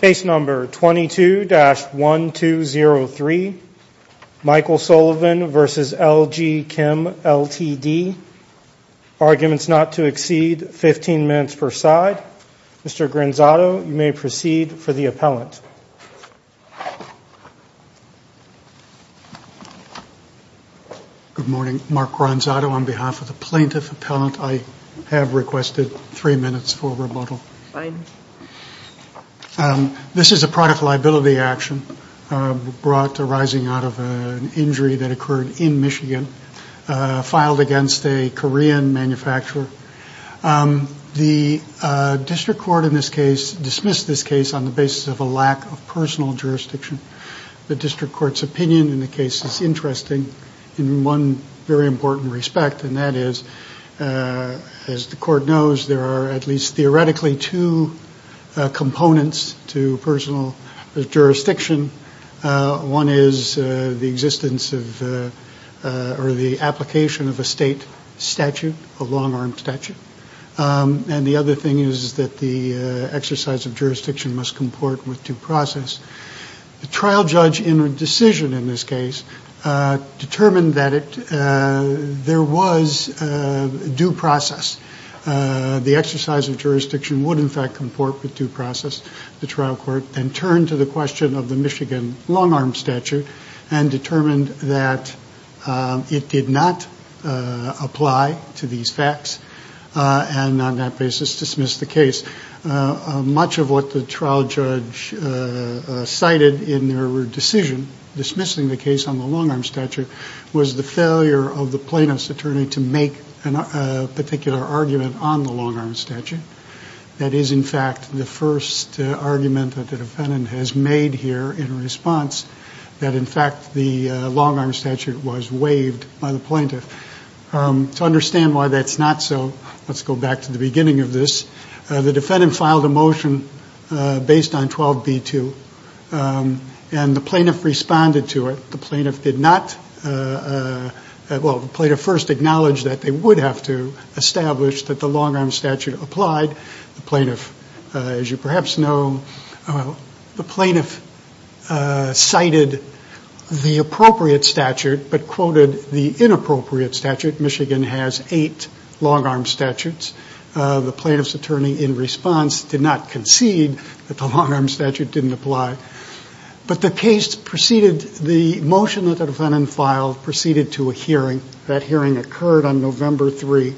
Case number 22-1203, Michael Sullivan v. LG Chem LTD. Arguments not to exceed 15 minutes per side. Mr. Granzato, you may proceed for the appellant. Good morning. Mark Granzato on behalf of the plaintiff appellant. I have requested three minutes for rebuttal. Fine. This is a product liability action brought arising out of an injury that occurred in Michigan, filed against a Korean manufacturer. The district court in this case dismissed this case on the basis of a lack of personal jurisdiction. The district court's opinion in the case is interesting in one very important respect, and that is, as the court knows, there are at least theoretically two components to personal jurisdiction. One is the existence of or the application of a state statute, a long-arm statute. And the other thing is that the exercise of jurisdiction must comport with due process. The trial judge in a decision in this case determined that there was due process. The exercise of jurisdiction would in fact comport with due process. The trial court then turned to the question of the Michigan long-arm statute and determined that it did not apply to these facts, and on that basis dismissed the case. Much of what the trial judge cited in their decision dismissing the case on the long-arm statute was the failure of the plaintiff's attorney to make a particular argument on the long-arm statute. That is, in fact, the first argument that the defendant has made here in response, that in fact the long-arm statute was waived by the plaintiff. To understand why that's not so, let's go back to the beginning of this. The defendant filed a motion based on 12b-2, and the plaintiff responded to it. The plaintiff first acknowledged that they would have to establish that the long-arm statute applied. As you perhaps know, the plaintiff cited the appropriate statute but quoted the inappropriate statute. Michigan has eight long-arm statutes. The plaintiff's attorney, in response, did not concede that the long-arm statute didn't apply. But the motion that the defendant filed proceeded to a hearing. That hearing occurred on November 3.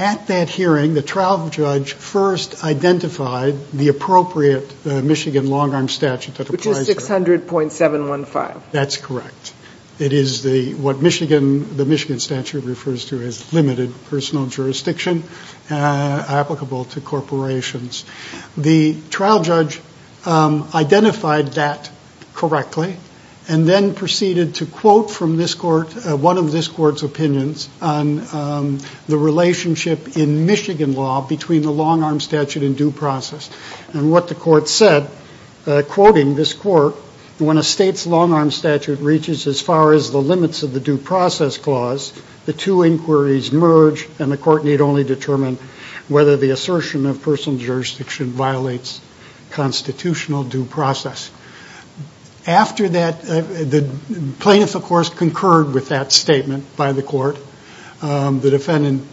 At that hearing, the trial judge first identified the appropriate Michigan long-arm statute that applied. Which is 600.715. That's correct. It is what the Michigan statute refers to as limited personal jurisdiction applicable to corporations. The trial judge identified that correctly and then proceeded to quote from one of this court's opinions on the relationship in Michigan law between the long-arm statute and due process. And what the court said, quoting this court, when a state's long-arm statute reaches as far as the limits of the due process clause, the two inquiries merge and the court need only determine whether the assertion of personal jurisdiction violates constitutional due process. After that, the plaintiff, of course, concurred with that statement by the court. The defendant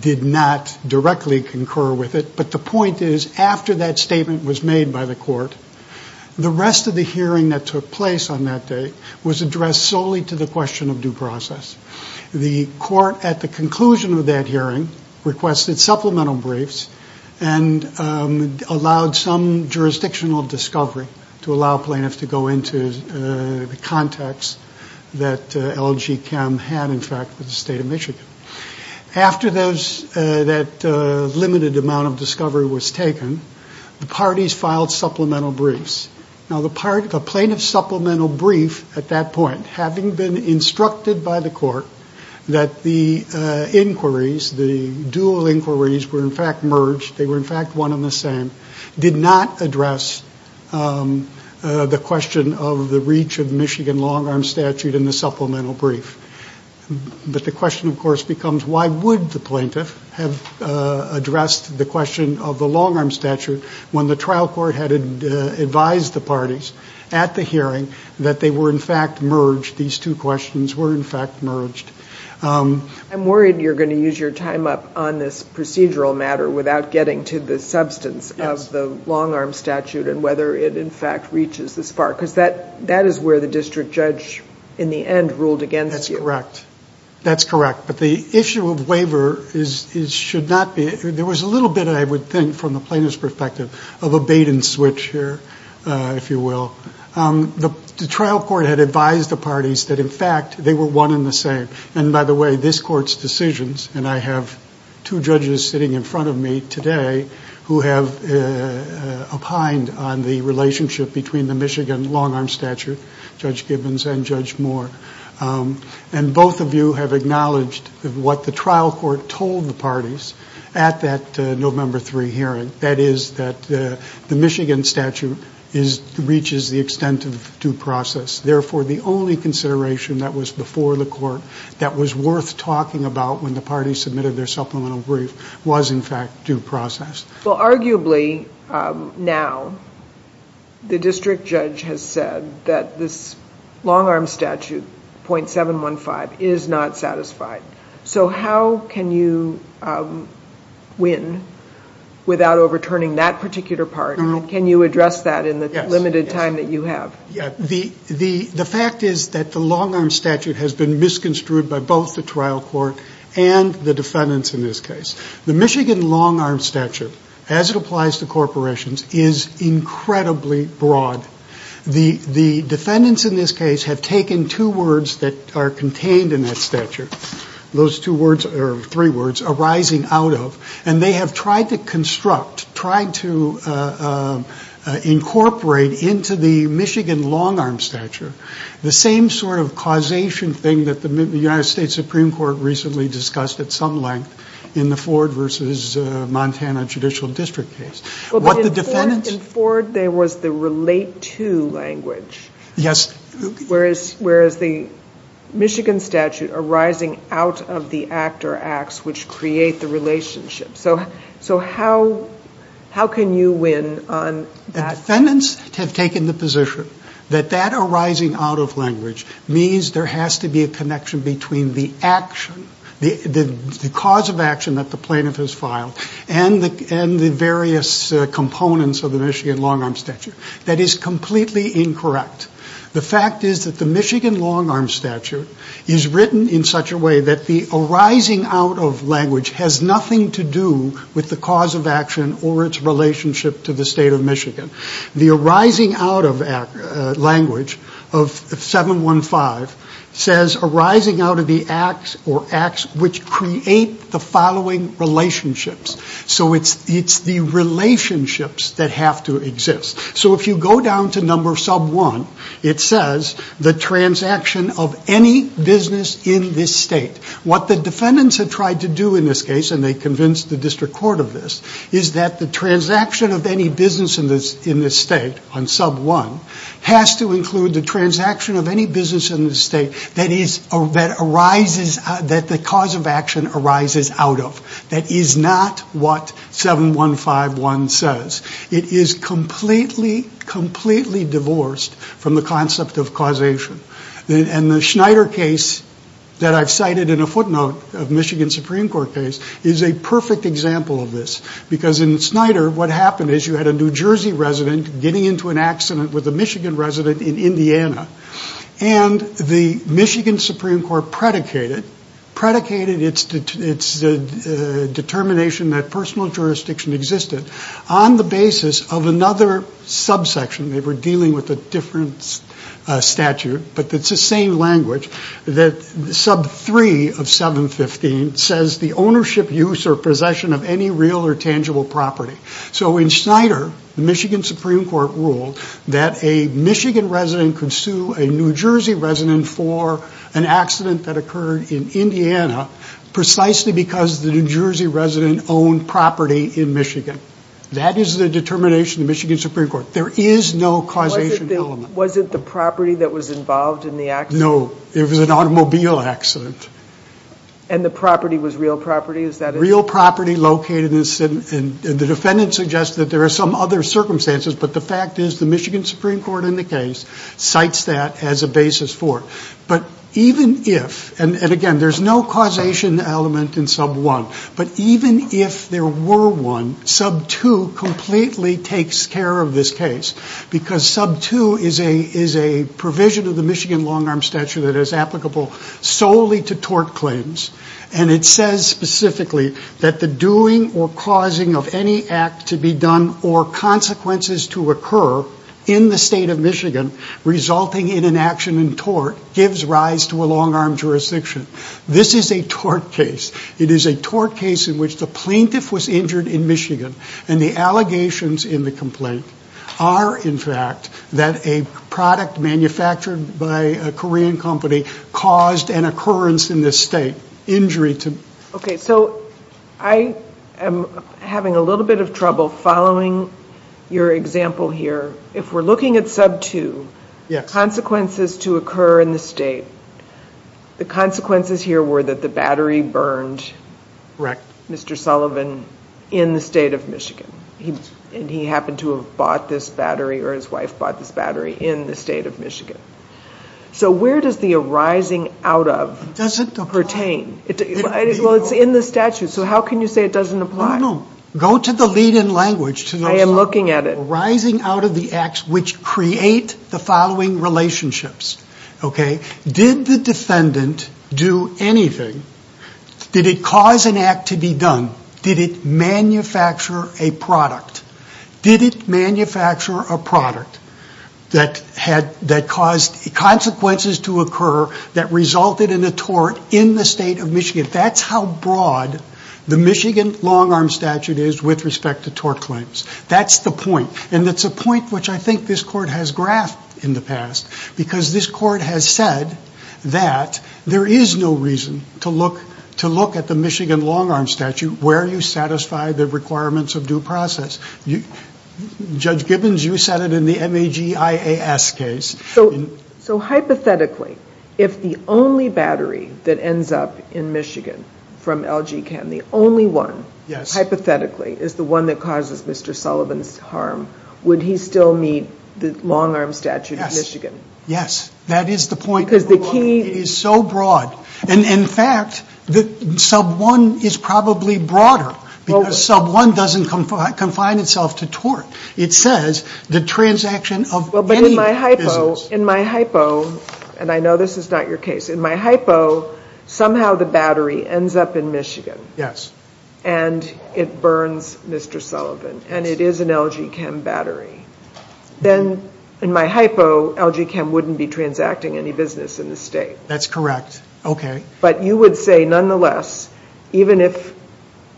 did not directly concur with it. But the point is, after that statement was made by the court, the rest of the hearing that took place on that day was addressed solely to the question of due process. The court, at the conclusion of that hearing, requested supplemental briefs and allowed some jurisdictional discovery to allow plaintiffs to go into the context that LG Chem had, in fact, with the state of Michigan. After that limited amount of discovery was taken, the parties filed supplemental briefs. Now, the plaintiff's supplemental brief, at that point, having been instructed by the court that the inquiries, the dual inquiries were, in fact, merged, they were, in fact, one and the same, did not address the question of the reach of Michigan long-arm statute in the supplemental brief. But the question, of course, becomes, why would the plaintiff have addressed the question of the long-arm statute when the trial court had advised the parties at the hearing that they were, in fact, merged, these two questions were, in fact, merged? I'm worried you're going to use your time up on this procedural matter without getting to the substance of the long-arm statute and whether it, in fact, reaches this far. Because that is where the district judge, in the end, ruled against you. That's correct. That's correct. But the issue of waiver should not be, there was a little bit, I would think, from the plaintiff's perspective, of a bait and switch here, if you will. The trial court had advised the parties that, in fact, they were one and the same. And, by the way, this Court's decisions, and I have two judges sitting in front of me today who have opined on the relationship between the Michigan long-arm statute, Judge Gibbons and Judge Moore, and both of you have acknowledged what the trial court told the parties at that November 3 hearing, that is that the Michigan statute reaches the extent of due process. Therefore, the only consideration that was before the Court that was worth talking about when the parties submitted their supplemental brief was, in fact, due process. Well, arguably, now, the district judge has said that this long-arm statute, 0.715, is not satisfied. So how can you win without overturning that particular part? Can you address that in the limited time that you have? The fact is that the long-arm statute has been misconstrued by both the trial court and the defendants in this case. The Michigan long-arm statute, as it applies to corporations, is incredibly broad. The defendants in this case have taken two words that are contained in that statute, those three words, arising out of, and they have tried to construct, tried to incorporate into the Michigan long-arm statute the same sort of causation thing that the United States Supreme Court recently discussed at some length in the Ford v. Montana Judicial District case. But in Ford, there was the relate to language, whereas the Michigan statute, arising out of the act or acts which create the relationship. So how can you win on that? The defendants have taken the position that that arising out of language means there has to be a connection between the cause of action that the plaintiff has filed and the various components of the Michigan long-arm statute. That is completely incorrect. The fact is that the Michigan long-arm statute is written in such a way that the arising out of language has nothing to do with the cause of action or its relationship to the state of Michigan. The arising out of language of 715 says arising out of the acts or acts which create the following relationships. So it's the relationships that have to exist. So if you go down to number sub 1, it says the transaction of any business in this state. What the defendants have tried to do in this case, and they convinced the district court of this, is that the transaction of any business in this state on sub 1 has to include the transaction of any business in this state that the cause of action arises out of. That is not what 7151 says. It is completely, completely divorced from the concept of causation. And the Schneider case that I've cited in a footnote of Michigan Supreme Court case is a perfect example of this. Because in Schneider, what happened is you had a New Jersey resident getting into an accident with a Michigan resident in Indiana. And the Michigan Supreme Court predicated its determination that personal jurisdiction existed on the basis of another subsection. They were dealing with a different statute, but it's the same language. Sub 3 of 715 says the ownership, use, or possession of any real or tangible property. So in Schneider, the Michigan Supreme Court ruled that a Michigan resident could sue a New Jersey resident for an accident that occurred in Indiana precisely because the New Jersey resident owned property in Michigan. That is the determination of the Michigan Supreme Court. There is no causation element. Was it the property that was involved in the accident? No, it was an automobile accident. And the property was real property? Real property located in the city. And the defendant suggested that there are some other circumstances, but the fact is the Michigan Supreme Court in the case cites that as a basis for it. But even if, and again, there's no causation element in sub 1, but even if there were one, sub 2 completely takes care of this case because sub 2 is a provision of the Michigan long arm statute that is applicable solely to tort claims. And it says specifically that the doing or causing of any act to be done or consequences to occur in the state of Michigan resulting in an action in tort gives rise to a long arm jurisdiction. This is a tort case. It is a tort case in which the plaintiff was injured in Michigan and the allegations in the complaint are, in fact, that a product manufactured by a Korean company caused an occurrence in this state, injury to. Okay, so I am having a little bit of trouble following your example here. If we're looking at sub 2, consequences to occur in the state, the consequences here were that the battery burned Mr. Sullivan in the state of Michigan. And he happened to have bought this battery or his wife bought this battery in the state of Michigan. So where does the arising out of pertain? Well, it's in the statute. So how can you say it doesn't apply? Go to the lead in language. I am looking at it. The arising out of the acts which create the following relationships. Okay, did the defendant do anything? Did it cause an act to be done? Did it manufacture a product? Did it manufacture a product that caused consequences to occur that resulted in a tort in the state of Michigan? That's how broad the Michigan long arm statute is with respect to tort claims. That's the point. And it's a point which I think this court has graphed in the past. Because this court has said that there is no reason to look at the Michigan long arm statute where you satisfy the requirements of due process. Judge Gibbons, you said it in the MAG IAS case. So hypothetically, if the only battery that ends up in Michigan from LG Chem, the only one, hypothetically, is the one that causes Mr. Sullivan's harm, would he still need the long arm statute of Michigan? Yes. That is the point. Because the key is so broad. And, in fact, sub one is probably broader. Because sub one doesn't confine itself to tort. It says the transaction of any business. But in my hypo, and I know this is not your case, in my hypo, somehow the battery ends up in Michigan. Yes. And it burns Mr. Sullivan. And it is an LG Chem battery. Then, in my hypo, LG Chem wouldn't be transacting any business in the state. That's correct. Okay. But you would say, nonetheless, even if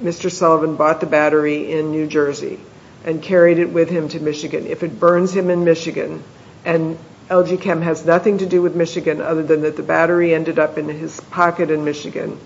Mr. Sullivan bought the battery in New Jersey and carried it with him to Michigan, if it burns him in Michigan, and LG Chem has nothing to do with Michigan other than that the battery ended up in his pocket in Michigan,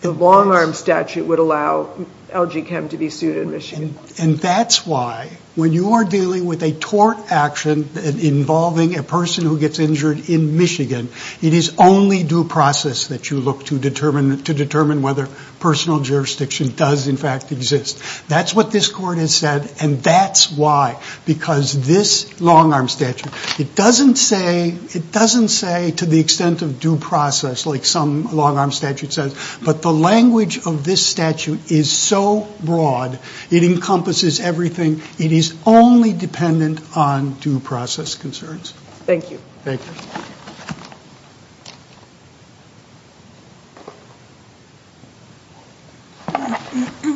the long arm statute would allow LG Chem to be sued in Michigan. And that's why, when you are dealing with a tort action involving a person who gets injured in Michigan, it is only due process that you look to determine whether personal jurisdiction does, in fact, exist. That's what this court has said, and that's why. Because this long arm statute, it doesn't say to the extent of due process, like some long arm statute says, but the language of this statute is so broad, it encompasses everything. It is only dependent on due process concerns. Thank you. Thank you.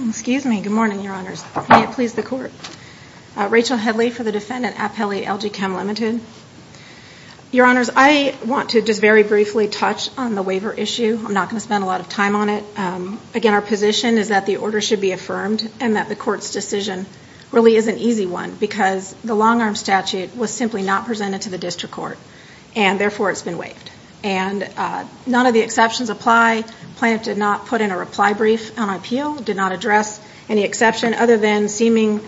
Excuse me. Good morning, Your Honors. May it please the Court. Rachel Headley for the defendant, Appelli, LG Chem Limited. Your Honors, I want to just very briefly touch on the waiver issue. I'm not going to spend a lot of time on it. Again, our position is that the order should be affirmed and that the Court's decision really is an easy one because the long arm statute was simply not presented to the district court, and therefore it's been waived. And none of the exceptions apply. Plaintiff did not put in a reply brief on appeal, did not address any exception, other than seeming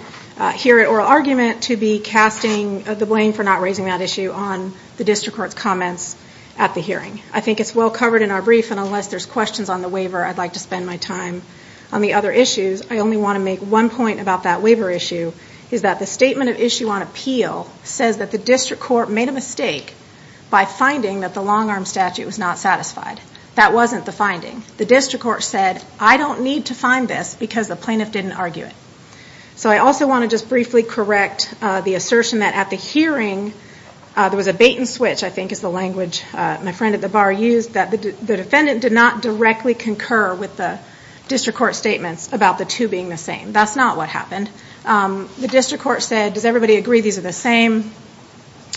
here at oral argument to be casting the blame for not raising that issue on the district court's comments at the hearing. I think it's well covered in our brief, and unless there's questions on the waiver, I'd like to spend my time on the other issues. I only want to make one point about that waiver issue, is that the statement of issue on appeal says that the district court made a mistake by finding that the long arm statute was not satisfied. That wasn't the finding. The district court said, I don't need to find this because the plaintiff didn't argue it. So I also want to just briefly correct the assertion that at the hearing there was a bait and switch, I think is the language my friend at the bar used, that the defendant did not directly concur with the district court statements about the two being the same. That's not what happened. The district court said, does everybody agree these are the same?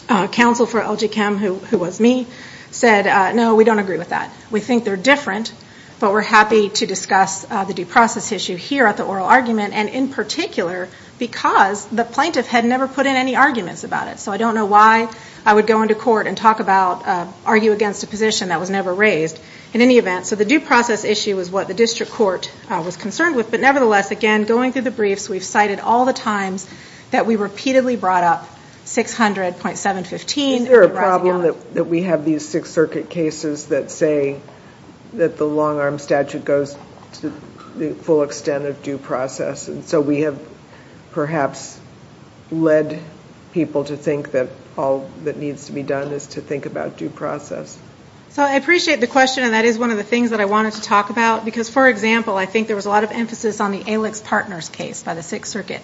Counsel for LG Chem, who was me, said, no, we don't agree with that. We think they're different, but we're happy to discuss the due process issue here at the oral argument, and in particular because the plaintiff had never put in any arguments about it. So I don't know why I would go into court and argue against a position that was never raised in any event. So the due process issue is what the district court was concerned with. But nevertheless, again, going through the briefs, we've cited all the times that we repeatedly brought up 600.715. Is there a problem that we have these Sixth Circuit cases that say that the long-arm statute goes to the full extent of due process? And so we have perhaps led people to think that all that needs to be done is to think about due process. So I appreciate the question, and that is one of the things that I wanted to talk about. Because, for example, I think there was a lot of emphasis on the Alix Partners case by the Sixth Circuit.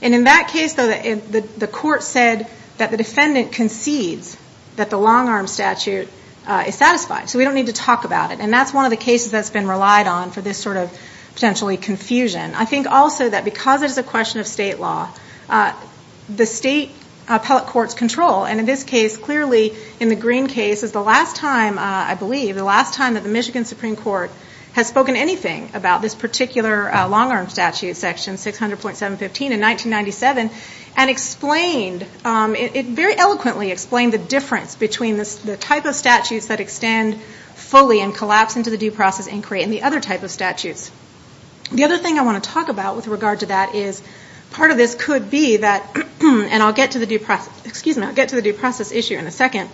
And in that case, though, the court said that the defendant concedes that the long-arm statute is satisfied. So we don't need to talk about it. And that's one of the cases that's been relied on for this sort of potentially confusion. I think also that because it is a question of state law, the state appellate courts control. And in this case, clearly, in the Green case, is the last time, I believe, the last time that the Michigan Supreme Court has spoken anything about this particular long-arm statute section, 600.715, in 1997. And it very eloquently explained the difference between the type of statutes that extend fully and collapse into the due process inquiry and the other type of statutes. The other thing I want to talk about with regard to that is part of this could be that, and I'll get to the due process issue in a second,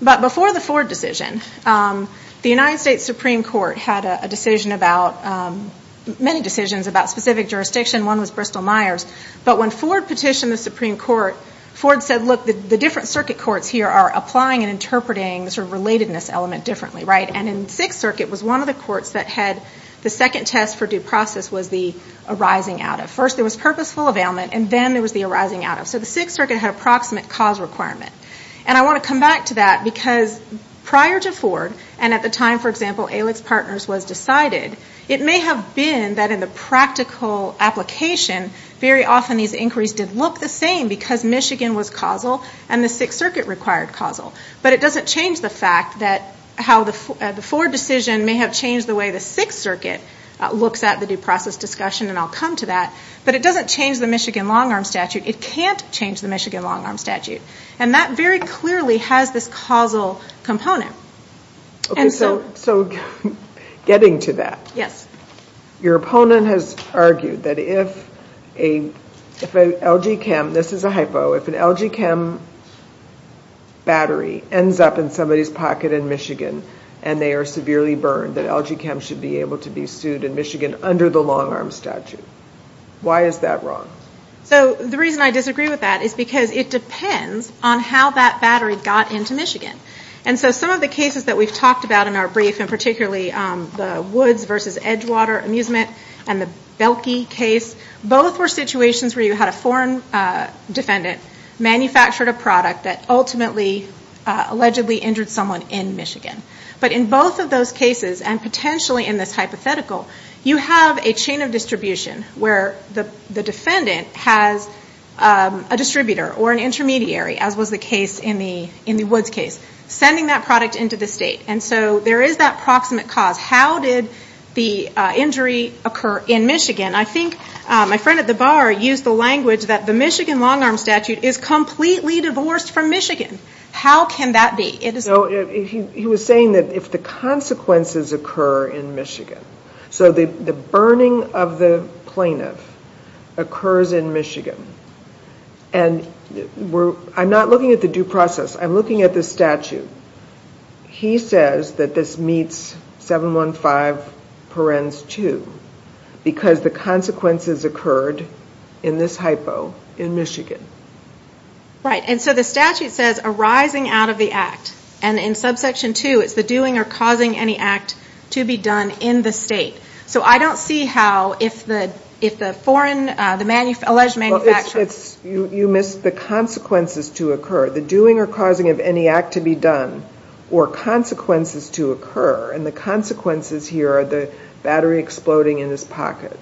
but before the Ford decision, the United States Supreme Court had a decision about, many decisions about specific jurisdiction. One was Bristol-Myers. But when Ford petitioned the Supreme Court, Ford said, look, the different circuit courts here are applying and interpreting the sort of relatedness element differently, right? And in the Sixth Circuit, it was one of the courts that had the second test for due process was the arising out of. First, there was purposeful availment, and then there was the arising out of. So the Sixth Circuit had approximate cause requirement. And I want to come back to that because prior to Ford, and at the time, for example, ALEC's partners was decided, it may have been that in the practical application, very often these inquiries did look the same because Michigan was causal and the Sixth Circuit required causal. But it doesn't change the fact that how the Ford decision may have changed the way the Sixth Circuit looks at the due process discussion, and I'll come to that. But it doesn't change the Michigan long-arm statute. It can't change the Michigan long-arm statute. And that very clearly has this causal component. Okay, so getting to that. Yes. Your opponent has argued that if a LG Chem, this is a hypo, if an LG Chem battery ends up in somebody's pocket in Michigan and they are severely burned, that LG Chem should be able to be sued in Michigan under the long-arm statute. Why is that wrong? So the reason I disagree with that is because it depends on how that battery got into Michigan. And so some of the cases that we've talked about in our brief, and particularly the Woods versus Edgewater amusement and the Belkey case, both were situations where you had a foreign defendant manufacture a product that ultimately, allegedly injured someone in Michigan. But in both of those cases, and potentially in this hypothetical, you have a chain of distribution where the defendant has a distributor or an intermediary, as was the case in the Woods case, sending that product into the state. And so there is that proximate cause. How did the injury occur in Michigan? I think my friend at the bar used the language that the Michigan long-arm statute is completely divorced from Michigan. How can that be? He was saying that if the consequences occur in Michigan. So the burning of the plaintiff occurs in Michigan. And I'm not looking at the due process. I'm looking at the statute. He says that this meets 715 parens 2 because the consequences occurred in this hypo in Michigan. Right, and so the statute says arising out of the act. And in subsection 2, it's the doing or causing any act to be done in the state. So I don't see how if the foreign, the alleged manufacturer. You missed the consequences to occur. The doing or causing of any act to be done or consequences to occur. And the consequences here are the battery exploding in his pocket.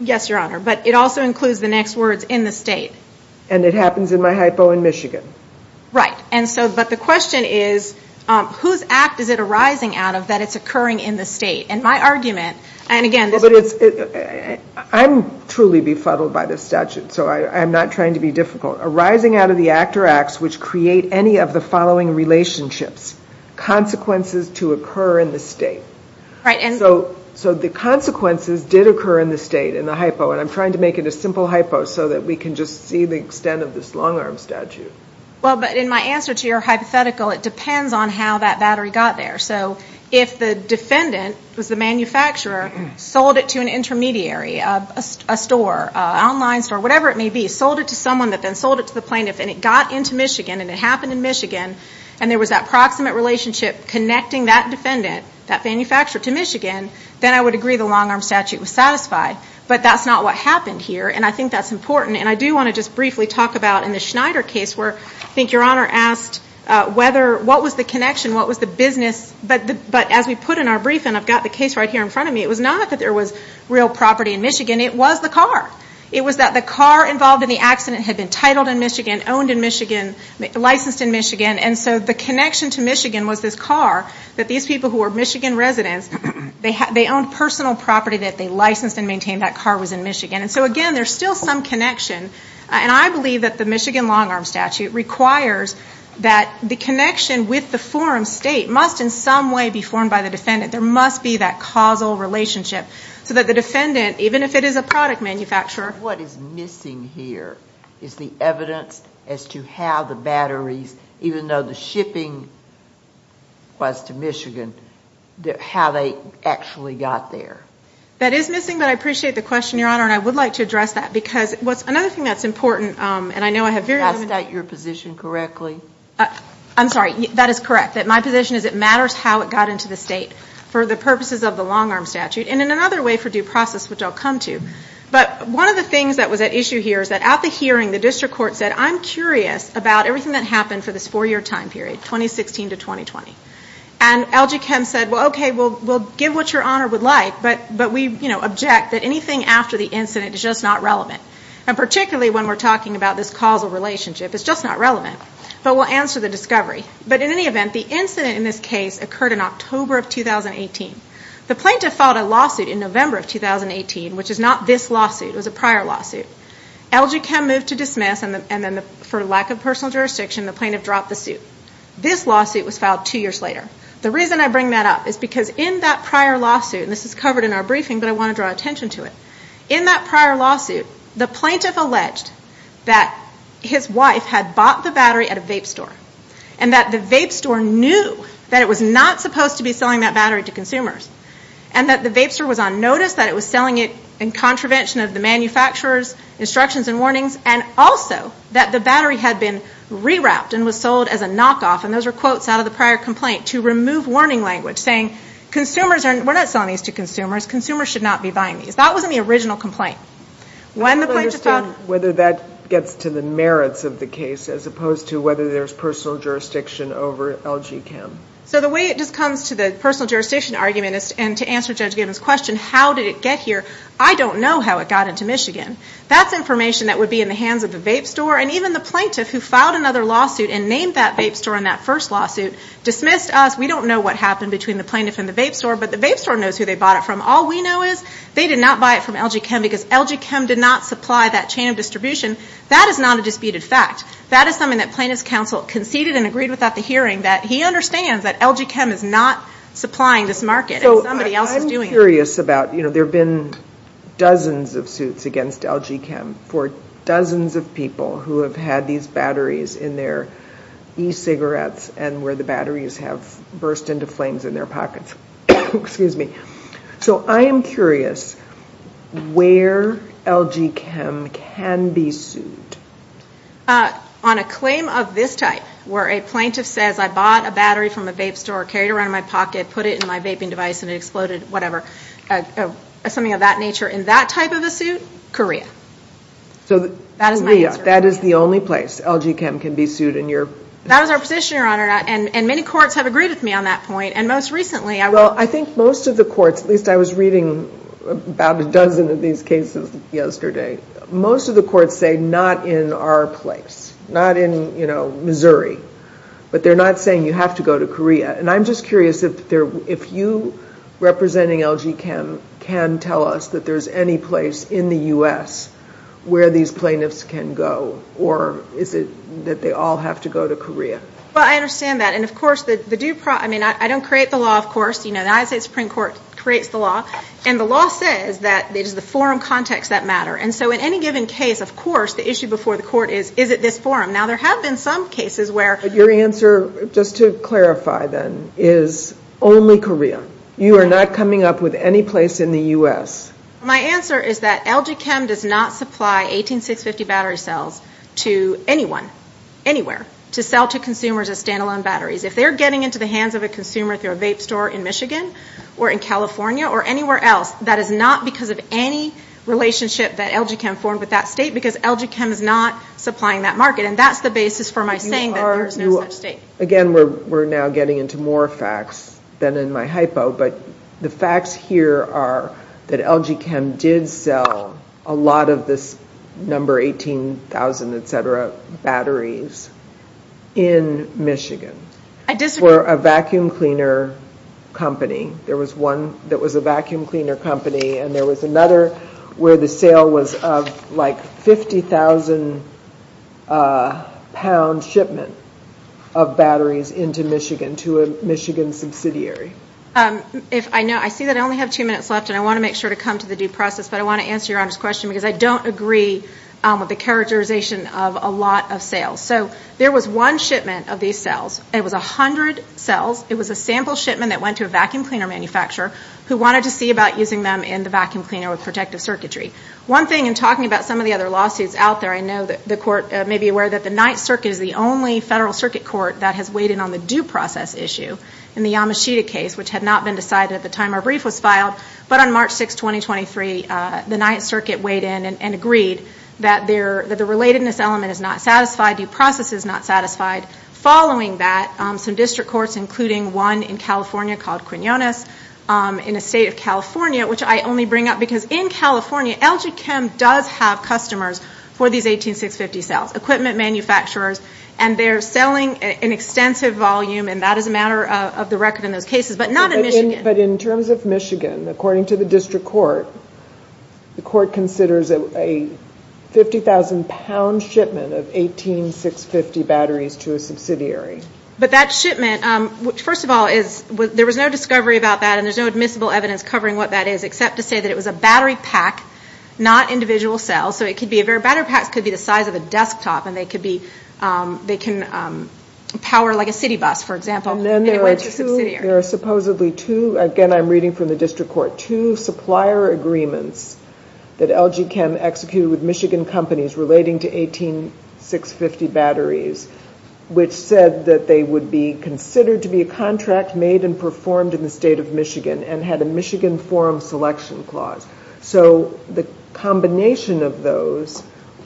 Yes, Your Honor, but it also includes the next words in the state. And it happens in my hypo in Michigan. Right, but the question is whose act is it arising out of that it's occurring in the state? And my argument, and again. I'm truly befuddled by this statute, so I'm not trying to be difficult. Arising out of the act or acts which create any of the following relationships. Consequences to occur in the state. So the consequences did occur in the state in the hypo. And I'm trying to make it a simple hypo so that we can just see the extent of this long-arm statute. Well, but in my answer to your hypothetical, it depends on how that battery got there. So if the defendant was the manufacturer, sold it to an intermediary, a store, an online store, whatever it may be, sold it to someone that then sold it to the plaintiff, and it got into Michigan and it happened in Michigan, and there was that proximate relationship connecting that defendant, that manufacturer, to Michigan, then I would agree the long-arm statute was satisfied. But that's not what happened here, and I think that's important. And I do want to just briefly talk about in the Schneider case where I think Your Honor asked whether what was the connection, what was the business. But as we put in our brief, and I've got the case right here in front of me, it was not that there was real property in Michigan. It was the car. It was that the car involved in the accident had been titled in Michigan, owned in Michigan, licensed in Michigan. And so the connection to Michigan was this car that these people who were Michigan residents, they owned personal property that they licensed and maintained. That car was in Michigan. And so, again, there's still some connection. And I believe that the Michigan long-arm statute requires that the connection with the forum state must in some way be formed by the defendant. There must be that causal relationship so that the defendant, even if it is a product manufacturer. What is missing here is the evidence as to how the batteries, even though the shipping was to Michigan, how they actually got there. That is missing, but I appreciate the question, Your Honor, and I would like to address that. Because what's another thing that's important, and I know I have very limited. I'll state your position correctly. I'm sorry. That is correct, that my position is it matters how it got into the state for the purposes of the long-arm statute and in another way for due process, which I'll come to. But one of the things that was at issue here is that at the hearing, the district court said, I'm curious about everything that happened for this four-year time period, 2016 to 2020. And LG Chem said, well, okay, we'll give what Your Honor would like, but we object that anything after the incident is just not relevant. And particularly when we're talking about this causal relationship, it's just not relevant. But we'll answer the discovery. But in any event, the incident in this case occurred in October of 2018. The plaintiff filed a lawsuit in November of 2018, which is not this lawsuit. It was a prior lawsuit. LG Chem moved to dismiss, and then for lack of personal jurisdiction, the plaintiff dropped the suit. This lawsuit was filed two years later. The reason I bring that up is because in that prior lawsuit, and this is covered in our briefing, but I want to draw attention to it. In that prior lawsuit, the plaintiff alleged that his wife had bought the battery at a vape store and that the vape store knew that it was not supposed to be selling that battery to consumers and that the vape store was on notice that it was selling it in contravention of the manufacturer's instructions and warnings and also that the battery had been rewrapped and was sold as a knockoff. And those were quotes out of the prior complaint to remove warning language saying, we're not selling these to consumers, consumers should not be buying these. That wasn't the original complaint. When the plaintiff filed... I don't understand whether that gets to the merits of the case as opposed to whether there's personal jurisdiction over LG Chem. So the way it just comes to the personal jurisdiction argument and to answer Judge Gibbons' question, how did it get here, I don't know how it got into Michigan. That's information that would be in the hands of the vape store and even the plaintiff who filed another lawsuit and named that vape store in that first lawsuit dismissed us. We don't know what happened between the plaintiff and the vape store, but the vape store knows who they bought it from. All we know is they did not buy it from LG Chem because LG Chem did not supply that chain of distribution. That is not a disputed fact. That is something that plaintiff's counsel conceded and agreed without the hearing, that he understands that LG Chem is not supplying this market and somebody else is doing it. There have been dozens of suits against LG Chem for dozens of people who have had these batteries in their e-cigarettes and where the batteries have burst into flames in their pockets. So I am curious where LG Chem can be sued. On a claim of this type where a plaintiff says, I bought a battery from a vape store, carried it around in my pocket, put it in my vaping device and it exploded, whatever, something of that nature in that type of a suit, Korea. That is my answer. So Korea, that is the only place LG Chem can be sued in your... That was our position, Your Honor, and many courts have agreed with me on that point. And most recently... Well, I think most of the courts, at least I was reading about a dozen of these cases yesterday, most of the courts say not in our place, not in Missouri. But they are not saying you have to go to Korea. And I am just curious if you, representing LG Chem, can tell us that there is any place in the U.S. where these plaintiffs can go or is it that they all have to go to Korea? Well, I understand that. And, of course, I don't create the law, of course. The United States Supreme Court creates the law. And the law says that it is the forum context that matters. And so in any given case, of course, the issue before the court is, is it this forum? Now, there have been some cases where... But your answer, just to clarify then, is only Korea. You are not coming up with any place in the U.S.? My answer is that LG Chem does not supply 18650 battery cells to anyone, anywhere, to sell to consumers as standalone batteries. If they're getting into the hands of a consumer through a vape store in Michigan or in California or anywhere else, that is not because of any relationship that LG Chem formed with that state because LG Chem is not supplying that market. And that's the basis for my saying that there is no such state. Again, we're now getting into more facts than in my hypo. But the facts here are that LG Chem did sell a lot of this number 18,000, et cetera, batteries in Michigan. I disagree. For a vacuum cleaner company. There was one that was a vacuum cleaner company. And there was another where the sale was of like 50,000-pound shipment of batteries into Michigan, to a Michigan subsidiary. I see that I only have two minutes left, and I want to make sure to come to the due process, but I want to answer Your Honor's question because I don't agree with the characterization of a lot of sales. So there was one shipment of these cells. It was 100 cells. It was a sample shipment that went to a vacuum cleaner manufacturer who wanted to see about using them in the vacuum cleaner with protective circuitry. One thing in talking about some of the other lawsuits out there, I know that the Court may be aware that the Ninth Circuit is the only federal circuit court that has weighed in on the due process issue in the Yamashita case, which had not been decided at the time our brief was filed. But on March 6, 2023, the Ninth Circuit weighed in and agreed that the relatedness element is not satisfied, due process is not satisfied. Following that, some district courts, including one in California called Quinones in the state of California, which I only bring up because in California, LG Chem does have customers for these 18650 cells, equipment manufacturers, and they're selling an extensive volume, and that is a matter of the record in those cases, but not in Michigan. But in terms of Michigan, according to the district court, the court considers a 50,000-pound shipment of 18650 batteries to a subsidiary. But that shipment, first of all, there was no discovery about that and there's no admissible evidence covering what that is, except to say that it was a battery pack, not individual cells. Battery packs could be the size of a desktop and they can power like a city bus, for example. And then there are supposedly two, again, I'm reading from the district court, two supplier agreements that LG Chem executed with Michigan companies relating to 18650 batteries, which said that they would be considered to be a contract made and performed in the state of Michigan and had a Michigan forum selection clause. So the combination of those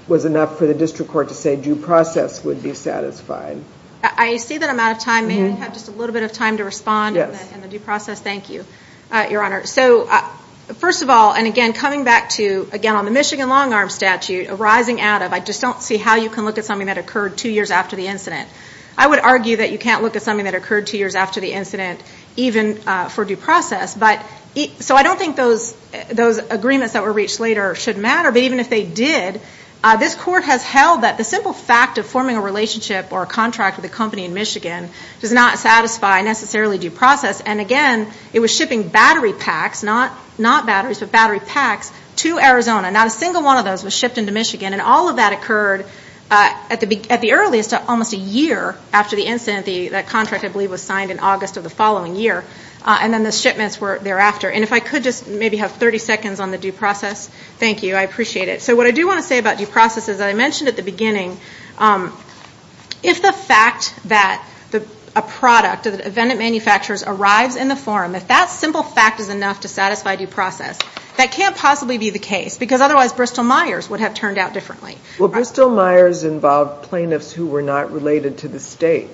was enough for the district court to say due process would be satisfied. I see that I'm out of time. Maybe we have just a little bit of time to respond in the due process. Thank you, Your Honor. So first of all, and again, coming back to, again, on the Michigan long-arm statute arising out of, I just don't see how you can look at something that occurred two years after the incident. I would argue that you can't look at something that occurred two years after the incident even for due process. So I don't think those agreements that were reached later should matter. But even if they did, this court has held that the simple fact of forming a relationship or a contract with a company in Michigan does not satisfy necessarily due process. And, again, it was shipping battery packs, not batteries, but battery packs to Arizona. Not a single one of those was shipped into Michigan. And all of that occurred at the earliest almost a year after the incident. That contract, I believe, was signed in August of the following year. And then the shipments were thereafter. And if I could just maybe have 30 seconds on the due process. Thank you. I appreciate it. If the fact that a product, an event at manufacturers, arrives in the forum, if that simple fact is enough to satisfy due process, that can't possibly be the case, because otherwise Bristol-Myers would have turned out differently. Well, Bristol-Myers involved plaintiffs who were not related to the state.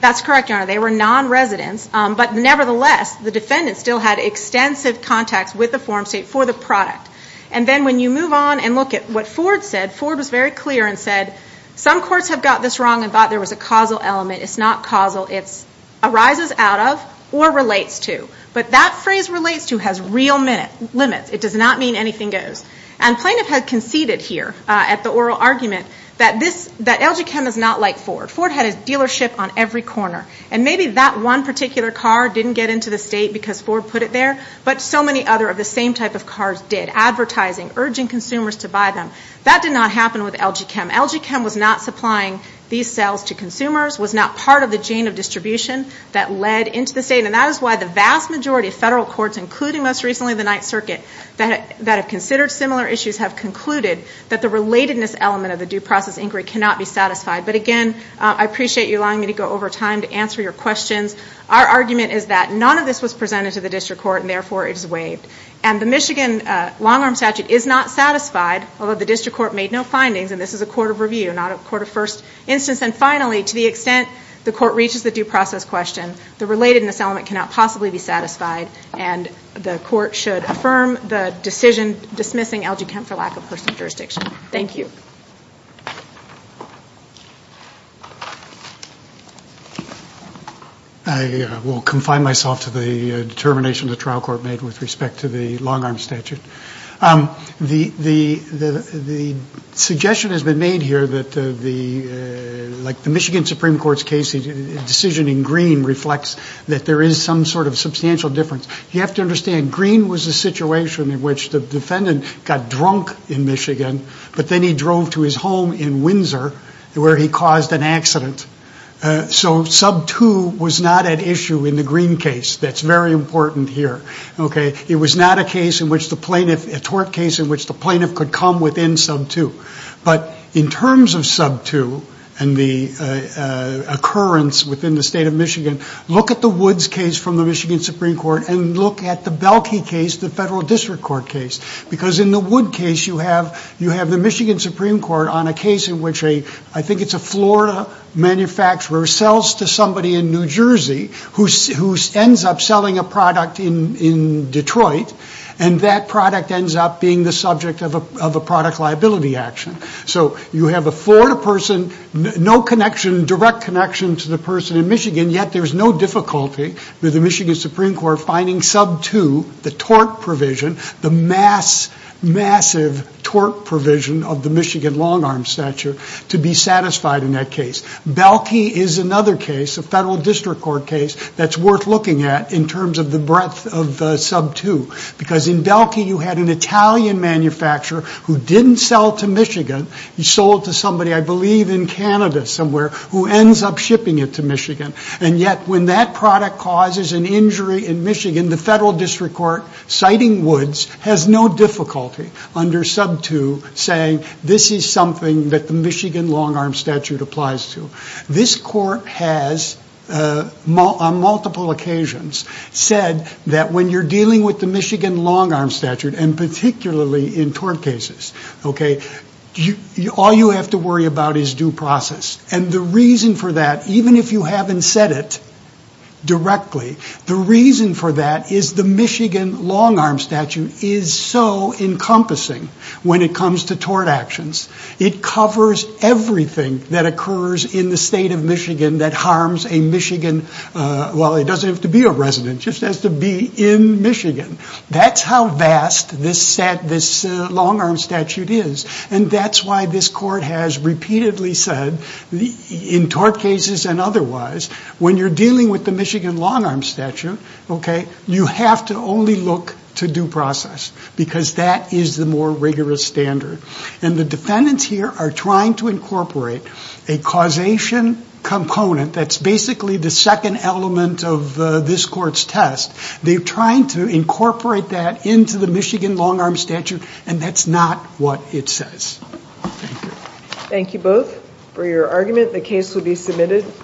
That's correct, Your Honor. They were non-residents. But nevertheless, the defendant still had extensive contacts with the forum state for the product. And then when you move on and look at what Ford said, Ford was very clear and said, some courts have got this wrong and thought there was a causal element. It's not causal. It arises out of or relates to. But that phrase relates to has real limits. It does not mean anything goes. And plaintiff had conceded here at the oral argument that LG Chem is not like Ford. Ford had a dealership on every corner. And maybe that one particular car didn't get into the state because Ford put it there, but so many other of the same type of cars did, advertising, urging consumers to buy them. That did not happen with LG Chem. LG Chem was not supplying these sales to consumers, was not part of the chain of distribution that led into the state. And that is why the vast majority of federal courts, including most recently the Ninth Circuit, that have considered similar issues have concluded that the relatedness element of the due process inquiry cannot be satisfied. But, again, I appreciate you allowing me to go over time to answer your questions. Our argument is that none of this was presented to the district court and, therefore, it is waived. And the Michigan long-arm statute is not satisfied, although the district court made no findings, and this is a court of review, not a court of first instance. And, finally, to the extent the court reaches the due process question, the relatedness element cannot possibly be satisfied, and the court should affirm the decision dismissing LG Chem for lack of personal jurisdiction. Thank you. I will confine myself to the determination the trial court made with respect to the long-arm statute. The suggestion has been made here that the Michigan Supreme Court's decision in Green reflects that there is some sort of substantial difference. You have to understand, Green was a situation in which the defendant got drunk in Michigan, but then he drove to his home in Windsor, where he caused an accident. So Sub 2 was not at issue in the Green case. That is very important here. It was not a tort case in which the plaintiff could come within Sub 2. But in terms of Sub 2 and the occurrence within the state of Michigan, look at the Woods case from the Michigan Supreme Court and look at the Belkey case, the federal district court case. Because in the Woods case, you have the Michigan Supreme Court on a case in which I think it's a Florida manufacturer sells to somebody in New Jersey who ends up selling a product in Detroit, and that product ends up being the subject of a product liability action. So you have a Florida person, no direct connection to the person in Michigan, yet there's no difficulty with the Michigan Supreme Court finding Sub 2, the tort provision, the massive tort provision of the Michigan long-arm statute, to be satisfied in that case. Belkey is another case, a federal district court case, that's worth looking at in terms of the breadth of Sub 2. Because in Belkey, you had an Italian manufacturer who didn't sell to Michigan. He sold to somebody, I believe in Canada somewhere, who ends up shipping it to Michigan. And yet, when that product causes an injury in Michigan, the federal district court, citing Woods, has no difficulty under Sub 2 saying this is something that the Michigan long-arm statute applies to. This court has, on multiple occasions, said that when you're dealing with the Michigan long-arm statute, and particularly in tort cases, all you have to worry about is due process. And the reason for that, even if you haven't said it directly, the reason for that is the Michigan long-arm statute is so encompassing when it comes to tort actions. It covers everything that occurs in the state of Michigan that harms a Michigan, well, it doesn't have to be a resident, just has to be in Michigan. That's how vast this long-arm statute is. And that's why this court has repeatedly said, in tort cases and otherwise, when you're dealing with the Michigan long-arm statute, you have to only look to due process, because that is the more rigorous standard. And the defendants here are trying to incorporate a causation component that's basically the second element of this court's test. They're trying to incorporate that into the Michigan long-arm statute, and that's not what it says. Thank you. Thank you both for your argument. The case will be submitted.